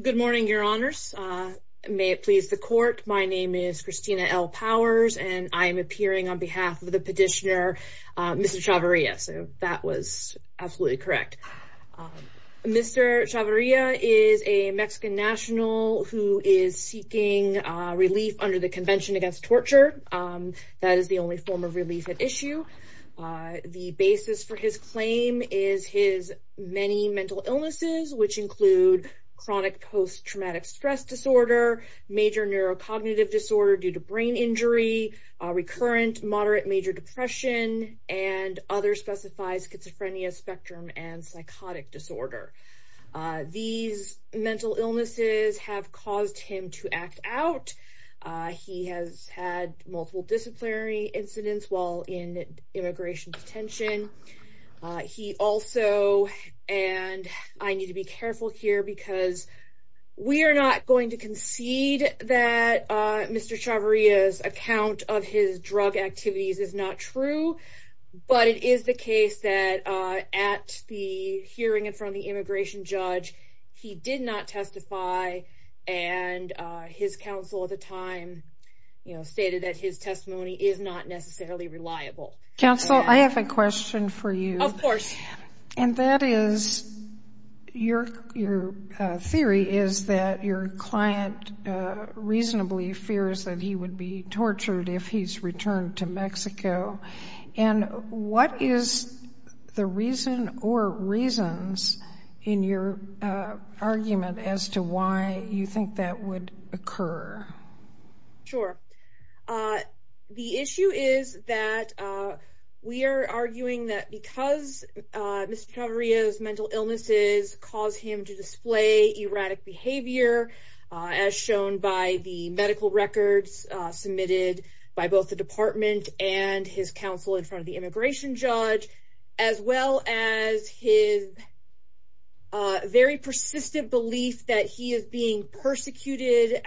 Good morning, Your Honors. May it please the Court, my name is Christina L. Powers, and I am appearing on behalf of the petitioner Mr. Chavarria, so that was absolutely correct. Mr. Chavarria is a Mexican national who is seeking relief under the Convention Against Torture. That is the only form of relief at issue. The basis for his claim is his many mental illnesses, which include chronic post-traumatic stress disorder, major neurocognitive disorder due to brain injury, recurrent moderate major depression, and others specifies schizophrenia, spectrum, and psychotic disorder. These mental illnesses have caused him to act out. He has had multiple disciplinary incidents while in immigration detention. He also, and I need to be careful here because we are not going to concede that Mr. Chavarria's account of his drug activities is not true, but it is the case that at the hearing in front of the immigration judge, he did not testify, and his counsel at the time stated that his testimony is not necessarily reliable. Counsel, I have a question for you. Of course. And that is, your theory is that your client reasonably fears that he would be tortured if he's returned to Mexico, and what is the reason or reasons in your argument as to why you think that would occur? Sure. The issue is that we are arguing that because Mr. Chavarria's mental illnesses caused him to display erratic behavior, as shown by the medical records submitted by both the department and his counsel in front of the immigration judge, as well as his very persistent belief that he is being persecuted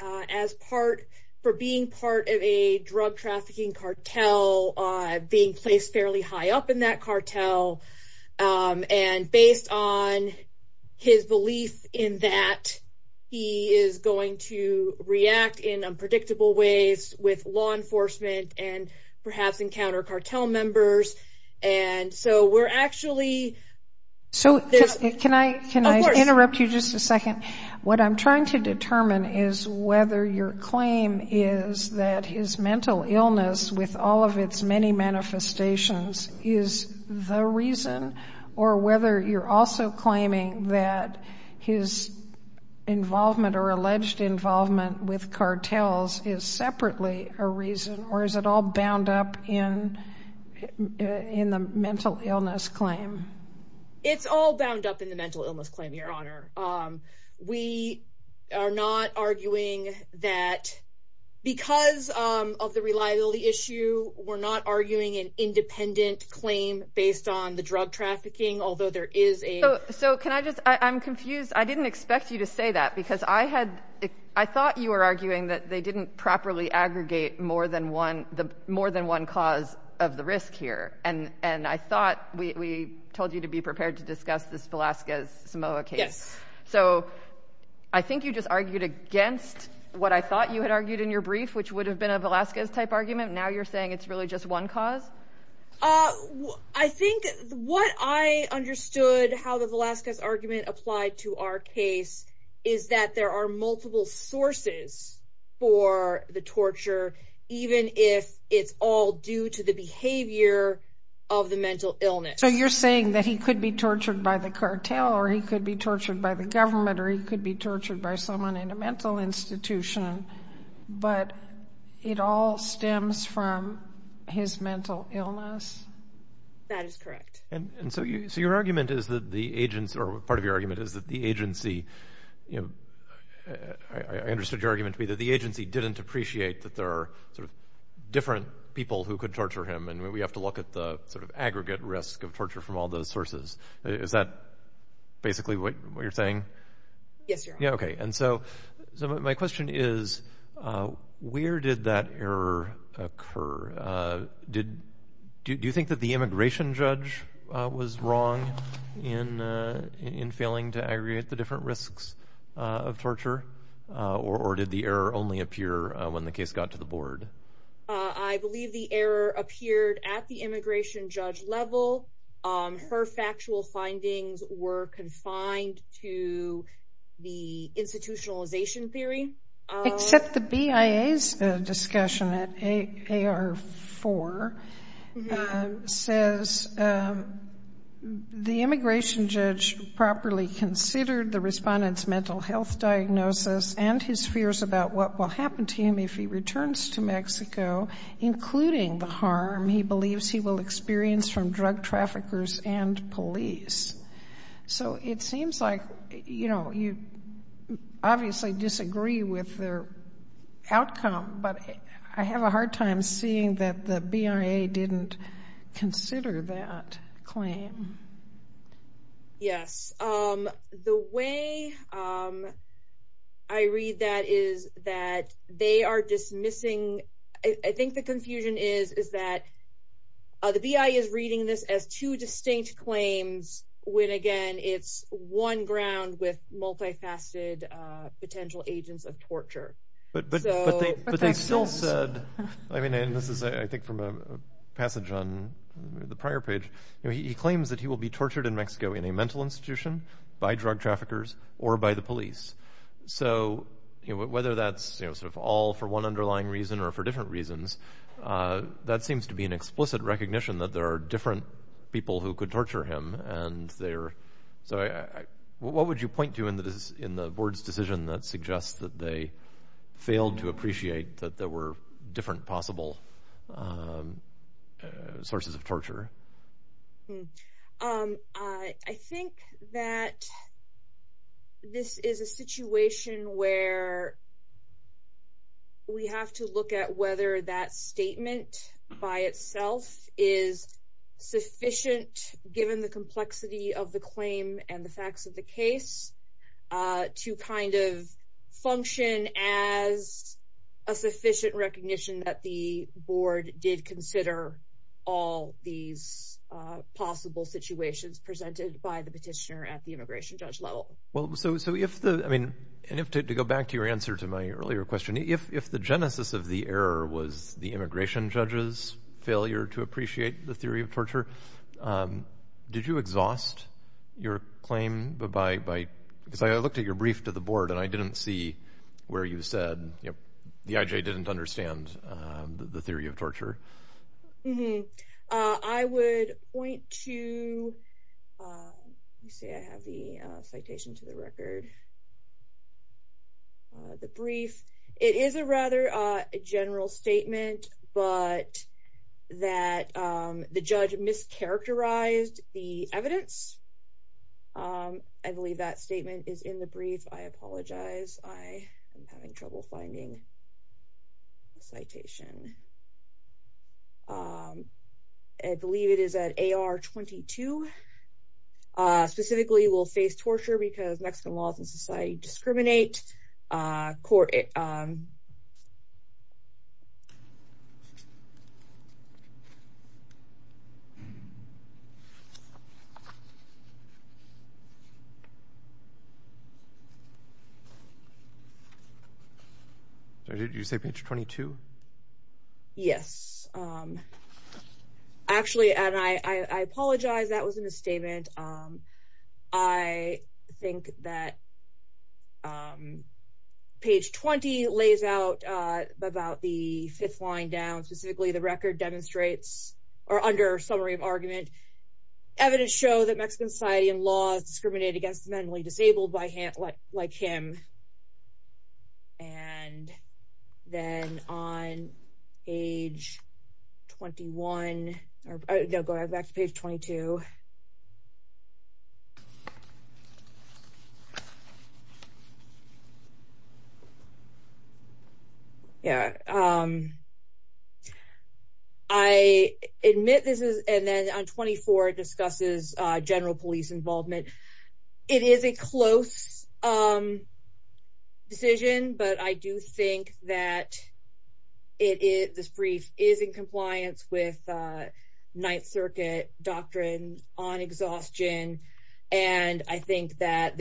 for being part of a drug trafficking cartel, being placed fairly high up in that cartel. And based on his belief in that, he is going to react in unpredictable ways with law enforcement and perhaps encounter cartel members, and so we're actually... Can I interrupt you just a second? What I'm trying to determine is whether your claim is that his mental illness, with all of its many manifestations, is the reason, or whether you're also claiming that his involvement or alleged involvement with cartels is separately a reason, or is it all bound up in the mental illness claim? It's all bound up in the mental illness claim, Your Honor. We are not arguing that because of the reliability issue, we're not arguing an independent claim based on the drug trafficking, although there is a... We told you to be prepared to discuss this Velazquez-Samoa case. So I think you just argued against what I thought you had argued in your brief, which would have been a Velazquez-type argument. Now you're saying it's really just one cause? I think what I understood how the Velazquez argument applied to our case is that there are multiple sources for the torture, even if it's all due to the behavior of the mental illness. So you're saying that he could be tortured by the cartel, or he could be tortured by the government, or he could be tortured by someone in a mental institution, but it all stems from his mental illness? That is correct. And so your argument is that the agents, or part of your argument is that the agency... I understood your argument to be that the agency didn't appreciate that there are sort of different people who could torture him, and we have to look at the sort of aggregate risk of torture from all those sources. Is that basically what you're saying? Yes, Your Honor. Okay. And so my question is, where did that error occur? Do you think that the immigration judge was wrong in failing to aggregate the different risks of torture? Or did the error only appear when the case got to the board? I believe the error appeared at the immigration judge level. Her factual findings were confined to the institutionalization theory. Except the BIA's discussion at AR4 says the immigration judge properly considered the respondent's mental health diagnosis and his fears about what will happen to him if he returns to Mexico, including the harm he believes he will experience from drug traffickers and police. So it seems like, you know, you obviously disagree with their outcome, but I have a hard time seeing that the BIA didn't consider that claim. Yes. The way I read that is that they are dismissing... I think the confusion is that the BIA is reading this as two distinct claims when, again, it's one ground with multifaceted potential agents of torture. But they still said... I mean, and this is, I think, from a passage on the prior page, he claims that he will be tortured in Mexico in a mental institution by drug traffickers or by the police. So whether that's all for one underlying reason or for different reasons, that seems to be an explicit recognition that there are different people who could torture him. So what would you point to in the board's decision that suggests that they failed to appreciate that there were different possible sources of torture? I think that this is a situation where we have to look at whether that statement by itself is sufficient, given the complexity of the claim and the facts of the case, to kind of function as a sufficient recognition that the board did consider all these possible situations presented by the petitioner at the immigration judge level. Well, so if the... I mean, to go back to your answer to my earlier question, if the genesis of the error was the immigration judge's failure to appreciate the theory of torture, did you exhaust your claim by... Because I looked at your brief to the board and I didn't see where you said the IJ didn't understand the theory of torture. I would point to... Let me see, I have the citation to the record, the brief. It is a rather general statement, but that the judge mischaracterized the evidence. I believe that statement is in the brief. I apologize. I am having trouble finding the citation. I believe it is at AR 22. Specifically, we'll face torture because Mexican laws and society discriminate. Did you say page 22? Yes. Actually, and I apologize, that was a misstatement. I think that page 20 lays out about the fifth line down, specifically the record demonstrates, or under summary of argument, evidence show that Mexican society and law discriminate against the mentally disabled like him. And then on page 21... No, go back to page 22. I admit this is... And then on 24 it discusses general police involvement. It is a close decision, but I do think that this brief is in compliance with Ninth Circuit doctrine on exhaustion. And I think that...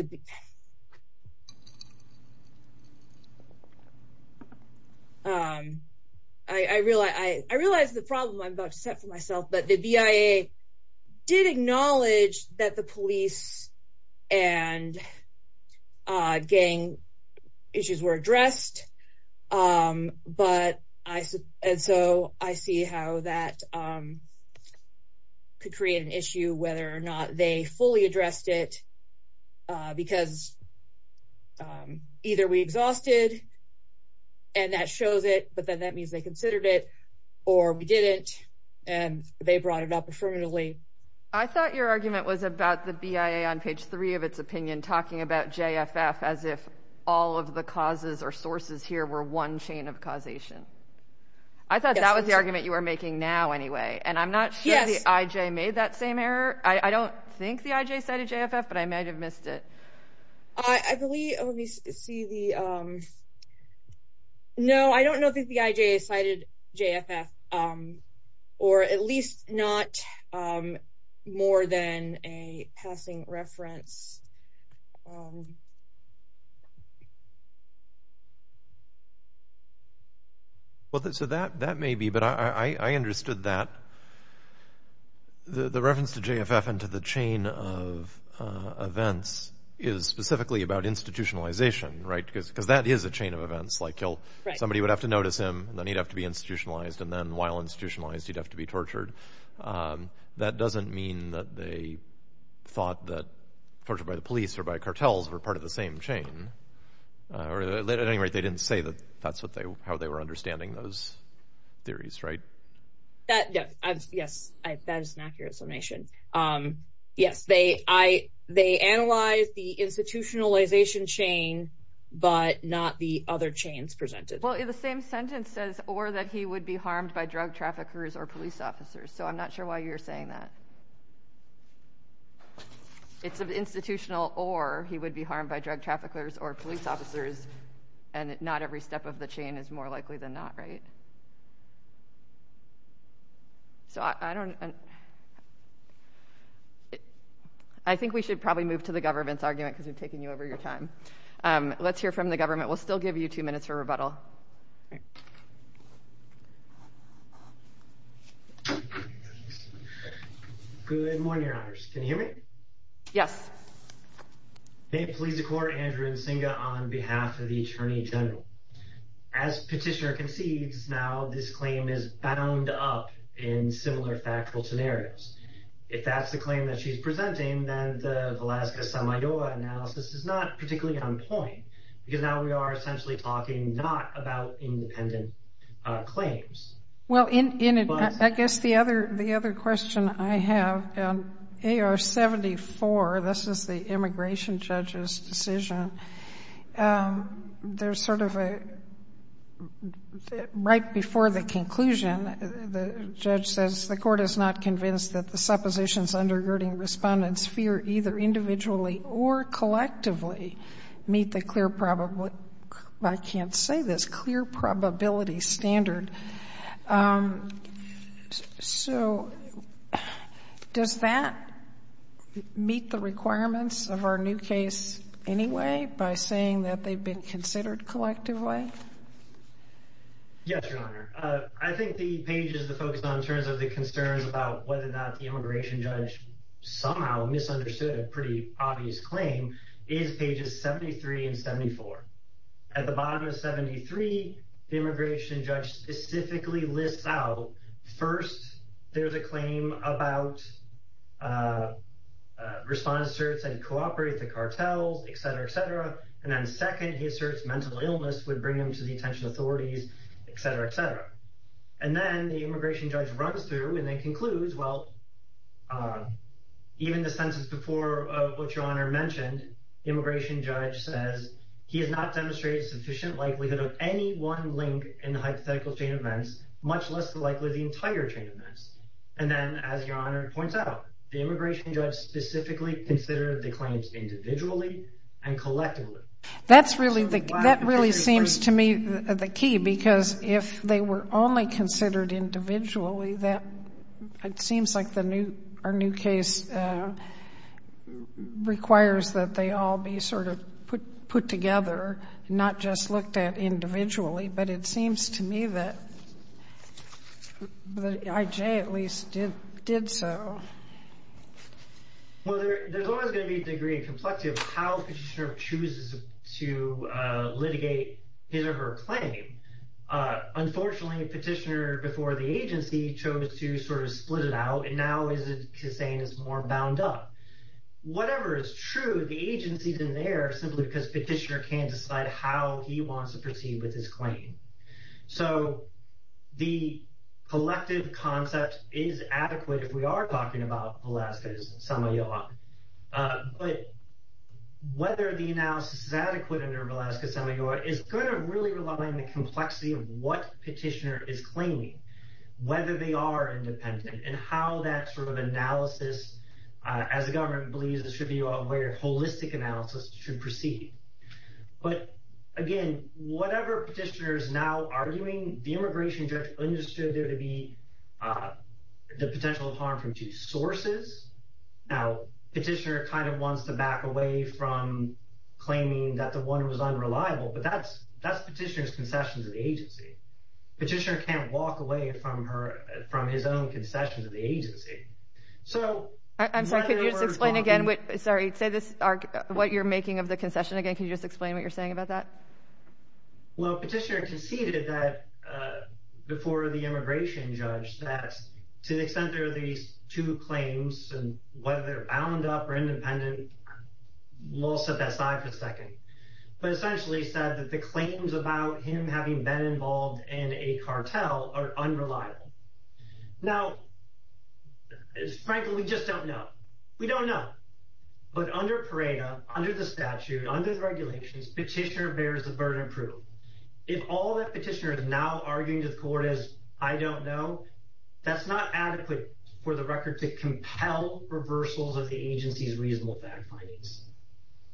I realize the problem I'm about to set for myself, but the BIA did acknowledge that the police and gang issues were addressed. And so I see how that could create an issue whether or not they fully addressed it because either we exhausted and that shows it, but then that means they considered it, or we didn't and they brought it up affirmatively. I thought your argument was about the BIA on page 3 of its opinion talking about JFF as if all of the causes or sources here were one chain of causation. I thought that was the argument you were making now anyway, and I'm not sure the IJ made that same error. I don't think the IJ cited JFF, but I might have missed it. I believe... Let me see the... No, I don't know if the IJ cited JFF or at least not more than a passing reference. Well, so that may be, but I understood that the reference to JFF and to the chain of events is specifically about institutionalization, right? Because that is a chain of events, like somebody would have to notice him, then he'd have to be institutionalized, and then while institutionalized, he'd have to be tortured. That doesn't mean that they thought that torture by the police or by cartels were part of the same chain. At any rate, they didn't say that that's how they were understanding those theories, right? Yes, that is an accurate summation. Yes, they analyzed the institutionalization chain, but not the other chains presented. Well, the same sentence says, or that he would be harmed by drug traffickers or police officers, so I'm not sure why you're saying that. It's institutional, or he would be harmed by drug traffickers or police officers, and not every step of the chain is more likely than not, right? I think we should probably move to the government's argument, because we've taken you over your time. Let's hear from the government. We'll still give you two minutes for rebuttal. Good morning, Your Honors. Can you hear me? Yes. May it please the Court, Andrew Nsinga on behalf of the Attorney General. As Petitioner concedes, now this claim is bound up in similar factual scenarios. If that's the claim that she's presenting, then the Velasquez-Samayoa analysis is not particularly on point, because now we are essentially talking not about independent claims. Well, in it, I guess the other question I have, AR-74, this is the immigration judge's decision. There's sort of a, right before the conclusion, the judge says the court is not convinced that the suppositions undergirding respondents fear either individually or collectively meet the clear, I can't say this, clear probability standard. So, does that meet the requirements of our new case anyway, by saying that they've been considered collectively? Yes, Your Honor. I think the pages to focus on in terms of the concerns about whether or not the immigration judge somehow misunderstood a pretty obvious claim is pages 73 and 74. At the bottom of 73, the immigration judge specifically lists out, first, there's a claim about respondents asserts that he cooperated with the cartels, et cetera, et cetera, and then second, he asserts mental illness would bring him to the attention of authorities, et cetera, et cetera. And then the immigration judge runs through and then concludes, well, even the census before what Your Honor mentioned, immigration judge says he has not demonstrated sufficient likelihood of any one link in the hypothetical chain of events, much less likely the entire chain of events. And then, as Your Honor points out, the immigration judge specifically considered the claims individually and collectively. That really seems to me the key, because if they were only considered individually, it seems like our new case requires that they all be sort of put together, not just looked at individually. But it seems to me that I.J. at least did so. Well, there's always going to be a degree of complexity of how a petitioner chooses to litigate his or her claim. Unfortunately, a petitioner before the agency chose to sort of split it out, and now is saying it's more bound up. Whatever is true, the agency's in there simply because petitioner can't decide how he wants to proceed with his claim. So the collective concept is adequate if we are talking about Velazquez-Semajor. But whether the analysis is adequate under Velazquez-Semajor is going to really rely on the complexity of what petitioner is claiming, whether they are independent, and how that sort of analysis, as the government believes it should be, where holistic analysis should proceed. But again, whatever petitioner is now arguing, the immigration judge understood there to be the potential of harm from two sources. Now, petitioner kind of wants to back away from claiming that the one was unreliable, but that's petitioner's concession to the agency. Petitioner can't walk away from his own concession to the agency. I'm sorry, could you just explain again what you're making of the concession again? Could you just explain what you're saying about that? Well, petitioner conceded that, before the immigration judge, that to the extent there are these two claims, and whether they're bound up or independent, we'll set that aside for a second. But essentially he said that the claims about him having been involved in a cartel are unreliable. Now, frankly, we just don't know. We don't know. But under PARADA, under the statute, under the regulations, petitioner bears the burden of proof. If all that petitioner is now arguing to the court is, I don't know, that's not adequate for the record to compel reversals of the agency's reasonable fact findings.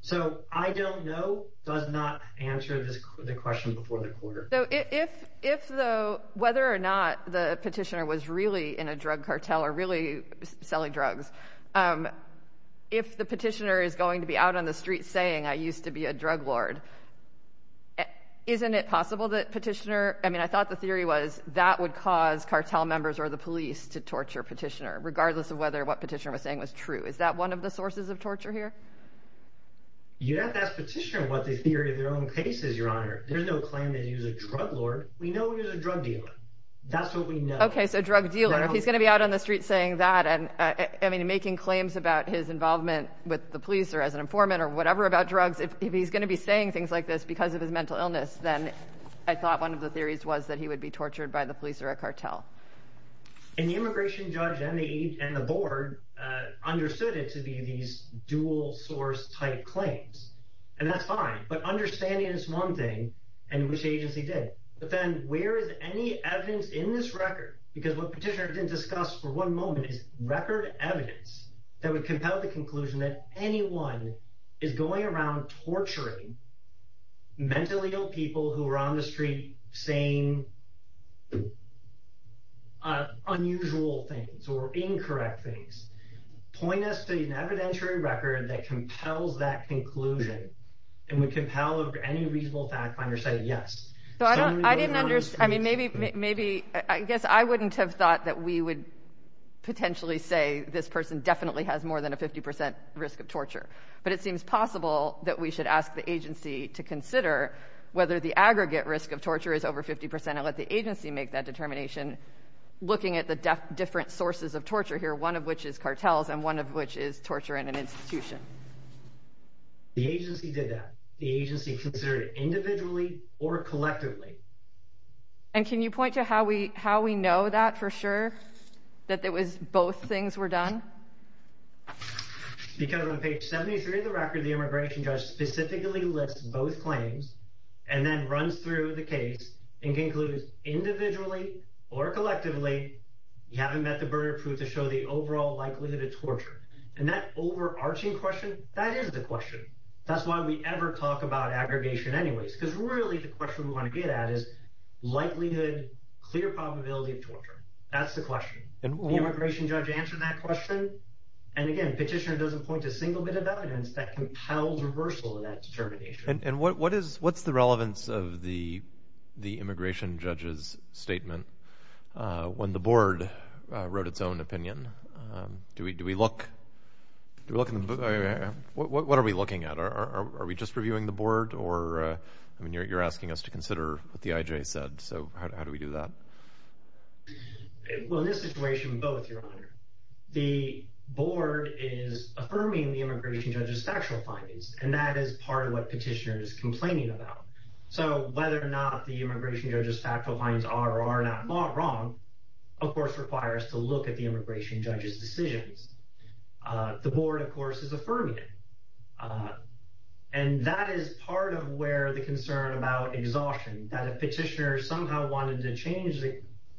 So, I don't know does not answer the question before the court. So, if though, whether or not the petitioner was really in a drug cartel or really selling drugs, if the petitioner is going to be out on the street saying, I used to be a drug lord, isn't it possible that petitioner, I mean, I thought the theory was that would cause cartel members or the police to torture petitioner, regardless of whether what petitioner was saying was true. Is that one of the sources of torture here? You'd have to ask petitioner what the theory of their own case is, Your Honor. There's no claim that he was a drug lord. We know he was a drug dealer. That's what we know. Okay, so drug dealer. If he's going to be out on the street saying that and, I mean, making claims about his involvement with the police or as an informant or whatever about drugs, if he's going to be saying things like this because of his mental illness, then I thought one of the theories was that he would be tortured by the police or a cartel. And the immigration judge and the board understood it to be these dual source type claims. And that's fine. But understanding is one thing, and which agency did. But then where is any evidence in this record? Because what petitioner didn't discuss for one moment is record evidence that would compel the conclusion that anyone is going around torturing mentally ill people who are on the street saying unusual things or incorrect things. Point us to an evidentiary record that compels that conclusion and would compel any reasonable fact finder to say yes. I didn't understand. I mean, maybe I guess I wouldn't have thought that we would potentially say this person definitely has more than a 50% risk of torture. But it seems possible that we should ask the agency to consider whether the aggregate risk of torture is over 50% and let the agency make that determination, looking at the different sources of torture here, one of which is cartels and one of which is torture in an institution. The agency did that. The agency considered it individually or collectively. And can you point to how we know that for sure, that it was both things were done? Because on page 73 of the record, the immigration judge specifically lists both claims and then runs through the case and concludes individually or collectively, you haven't met the burden of proof to show the overall likelihood of torture. And that overarching question, that is the question. That's why we ever talk about aggregation anyways, because really the question we want to get at is likelihood, clear probability of torture. That's the question. The immigration judge answered that question. And again, petitioner doesn't point to a single bit of evidence that compels reversal of that determination. And what is what's the relevance of the the immigration judge's statement when the board wrote its own opinion? Do we do we look to look at what are we looking at? Are we just reviewing the board or I mean, you're asking us to consider what the IJ said. So how do we do that? Well, in this situation, both your honor, the board is affirming the immigration judge's factual findings. And that is part of what petitioner is complaining about. So whether or not the immigration judge's factual findings are or are not wrong, of course, requires to look at the immigration judge's decisions. The board, of course, is affirming it. And that is part of where the concern about exhaustion, that a petitioner somehow wanted to change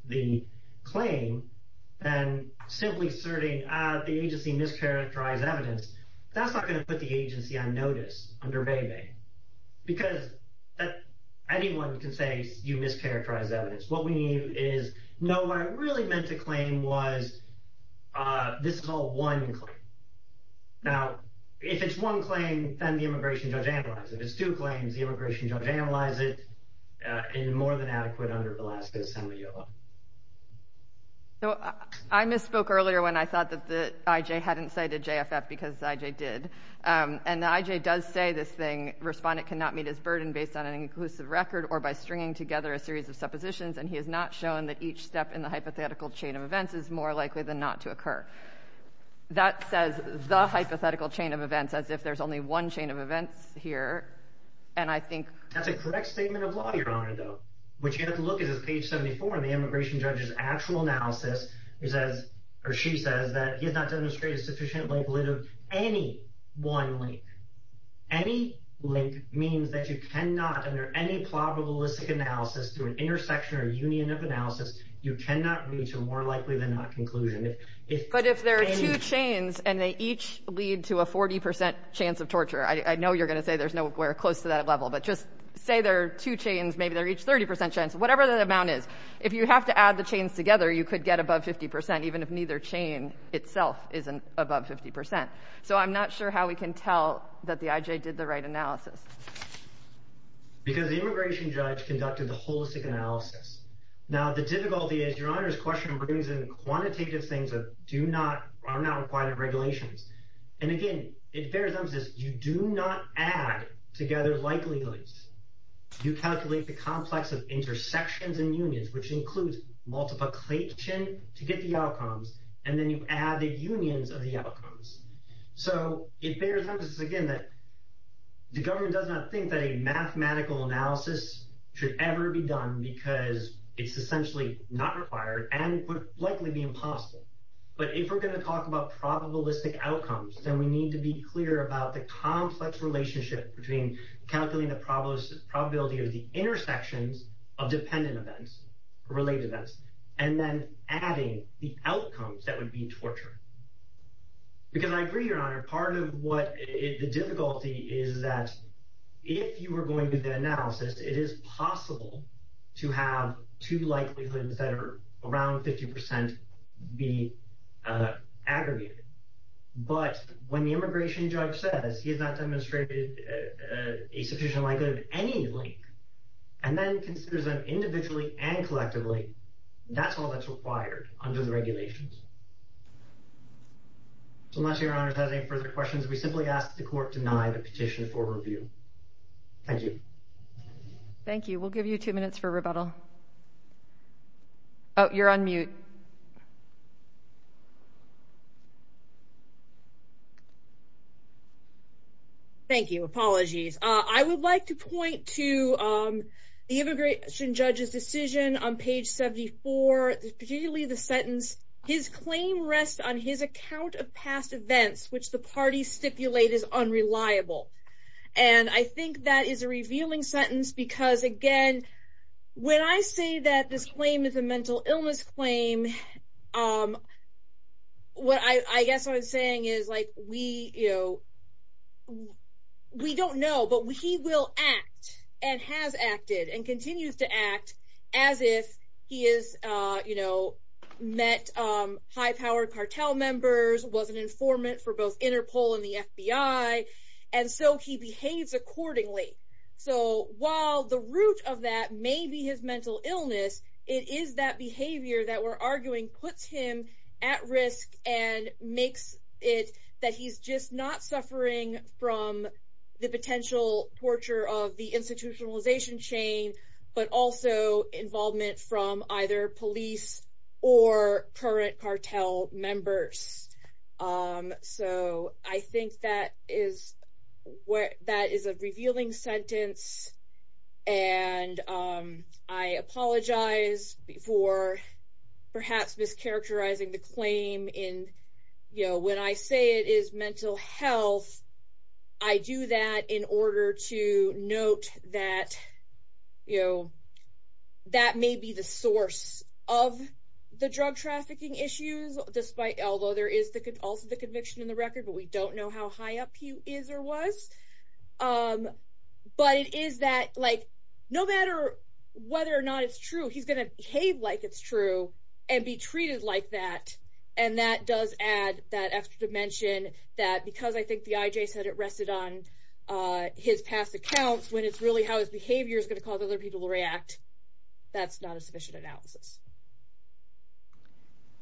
the claim and simply asserting the agency mischaracterized evidence. That's not going to put the agency on notice under Bebe, because anyone can say you mischaracterized evidence. What we need is no, what I really meant to claim was this is all one claim. Now, if it's one claim, then the immigration judge analyzes it. If it's two claims, the immigration judge analyzes it in a more than adequate under Alaska Assembly, your honor. So I misspoke earlier when I thought that the IJ hadn't cited JFF because IJ did. And the IJ does say this thing. Respondent cannot meet his burden based on an inclusive record or by stringing together a series of suppositions. And he has not shown that each step in the hypothetical chain of events is more likely than not to occur. That says the hypothetical chain of events, as if there's only one chain of events here. And I think that's a correct statement of law, your honor, though, which you have to look at page 74 of the immigration judge's actual analysis. He says or she says that he has not demonstrated sufficiently of any one link. Any link means that you cannot under any probabilistic analysis through an intersection or union of analysis. You cannot reach a more likely than not conclusion. But if there are two chains and they each lead to a 40 percent chance of torture, I know you're going to say there's nowhere close to that level. But just say there are two chains. Maybe they're each 30 percent chance, whatever that amount is. If you have to add the chains together, you could get above 50 percent, even if neither chain itself isn't above 50 percent. So I'm not sure how we can tell that the IJ did the right analysis. Because the immigration judge conducted the holistic analysis. Now, the difficulty is your honor's question brings in quantitative things that do not are not required of regulations. And again, it bears emphasis, you do not add together likelihoods. You calculate the complex of intersections and unions, which includes multiplication to get the outcomes. And then you add the unions of the outcomes. So it bears emphasis, again, that the government does not think that a mathematical analysis should ever be done because it's essentially not required and would likely be impossible. But if we're going to talk about probabilistic outcomes, then we need to be clear about the complex relationship between calculating the probability of the intersections of dependent events, related events, and then adding the outcomes that would be torture. Because I agree, your honor, part of what the difficulty is that if you were going to do the analysis, it is possible to have two likelihoods that are around 50 percent be aggregated. But when the immigration judge says he has not demonstrated a sufficient likelihood of any link and then considers them individually and collectively, that's all that's required under the regulations. So unless your honor has any further questions, we simply ask that the court deny the petition for review. Thank you. Thank you. We'll give you two minutes for rebuttal. Oh, you're on mute. Thank you. Apologies. I would like to point to the immigration judge's decision on page 74, particularly the sentence, his claim rests on his account of past events, which the parties stipulate is unreliable. And I think that is a revealing sentence because, again, when I say that this claim is a mental illness claim, what I guess what I'm saying is, like, we, you know, we don't know, but he will act and has acted and continues to act as if he is, you know, met high-powered cartel members, was an informant for both Interpol and the FBI. And so he behaves accordingly. So while the root of that may be his mental illness, it is that behavior that we're arguing puts him at risk and makes it that he's just not suffering from the potential torture of the institutionalization chain, but also involvement from either police or current cartel members. So I think that is a revealing sentence, and I apologize for perhaps mischaracterizing the claim in, you know, when I say it is mental health, I do that in order to note that, you know, that may be the source of the drug trafficking issues, despite, although there is also the conviction in the record, but we don't know how high up he is or was. But it is that, like, no matter whether or not it's true, he's going to behave like it's true and be treated like that. And that does add that extra dimension that because I think the IJ said it rested on his past accounts, when it's really how his behavior is going to cause other people to react, that's not a sufficient analysis.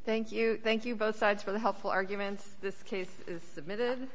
Thank you. Thank you, both sides, for the helpful arguments. This case is submitted.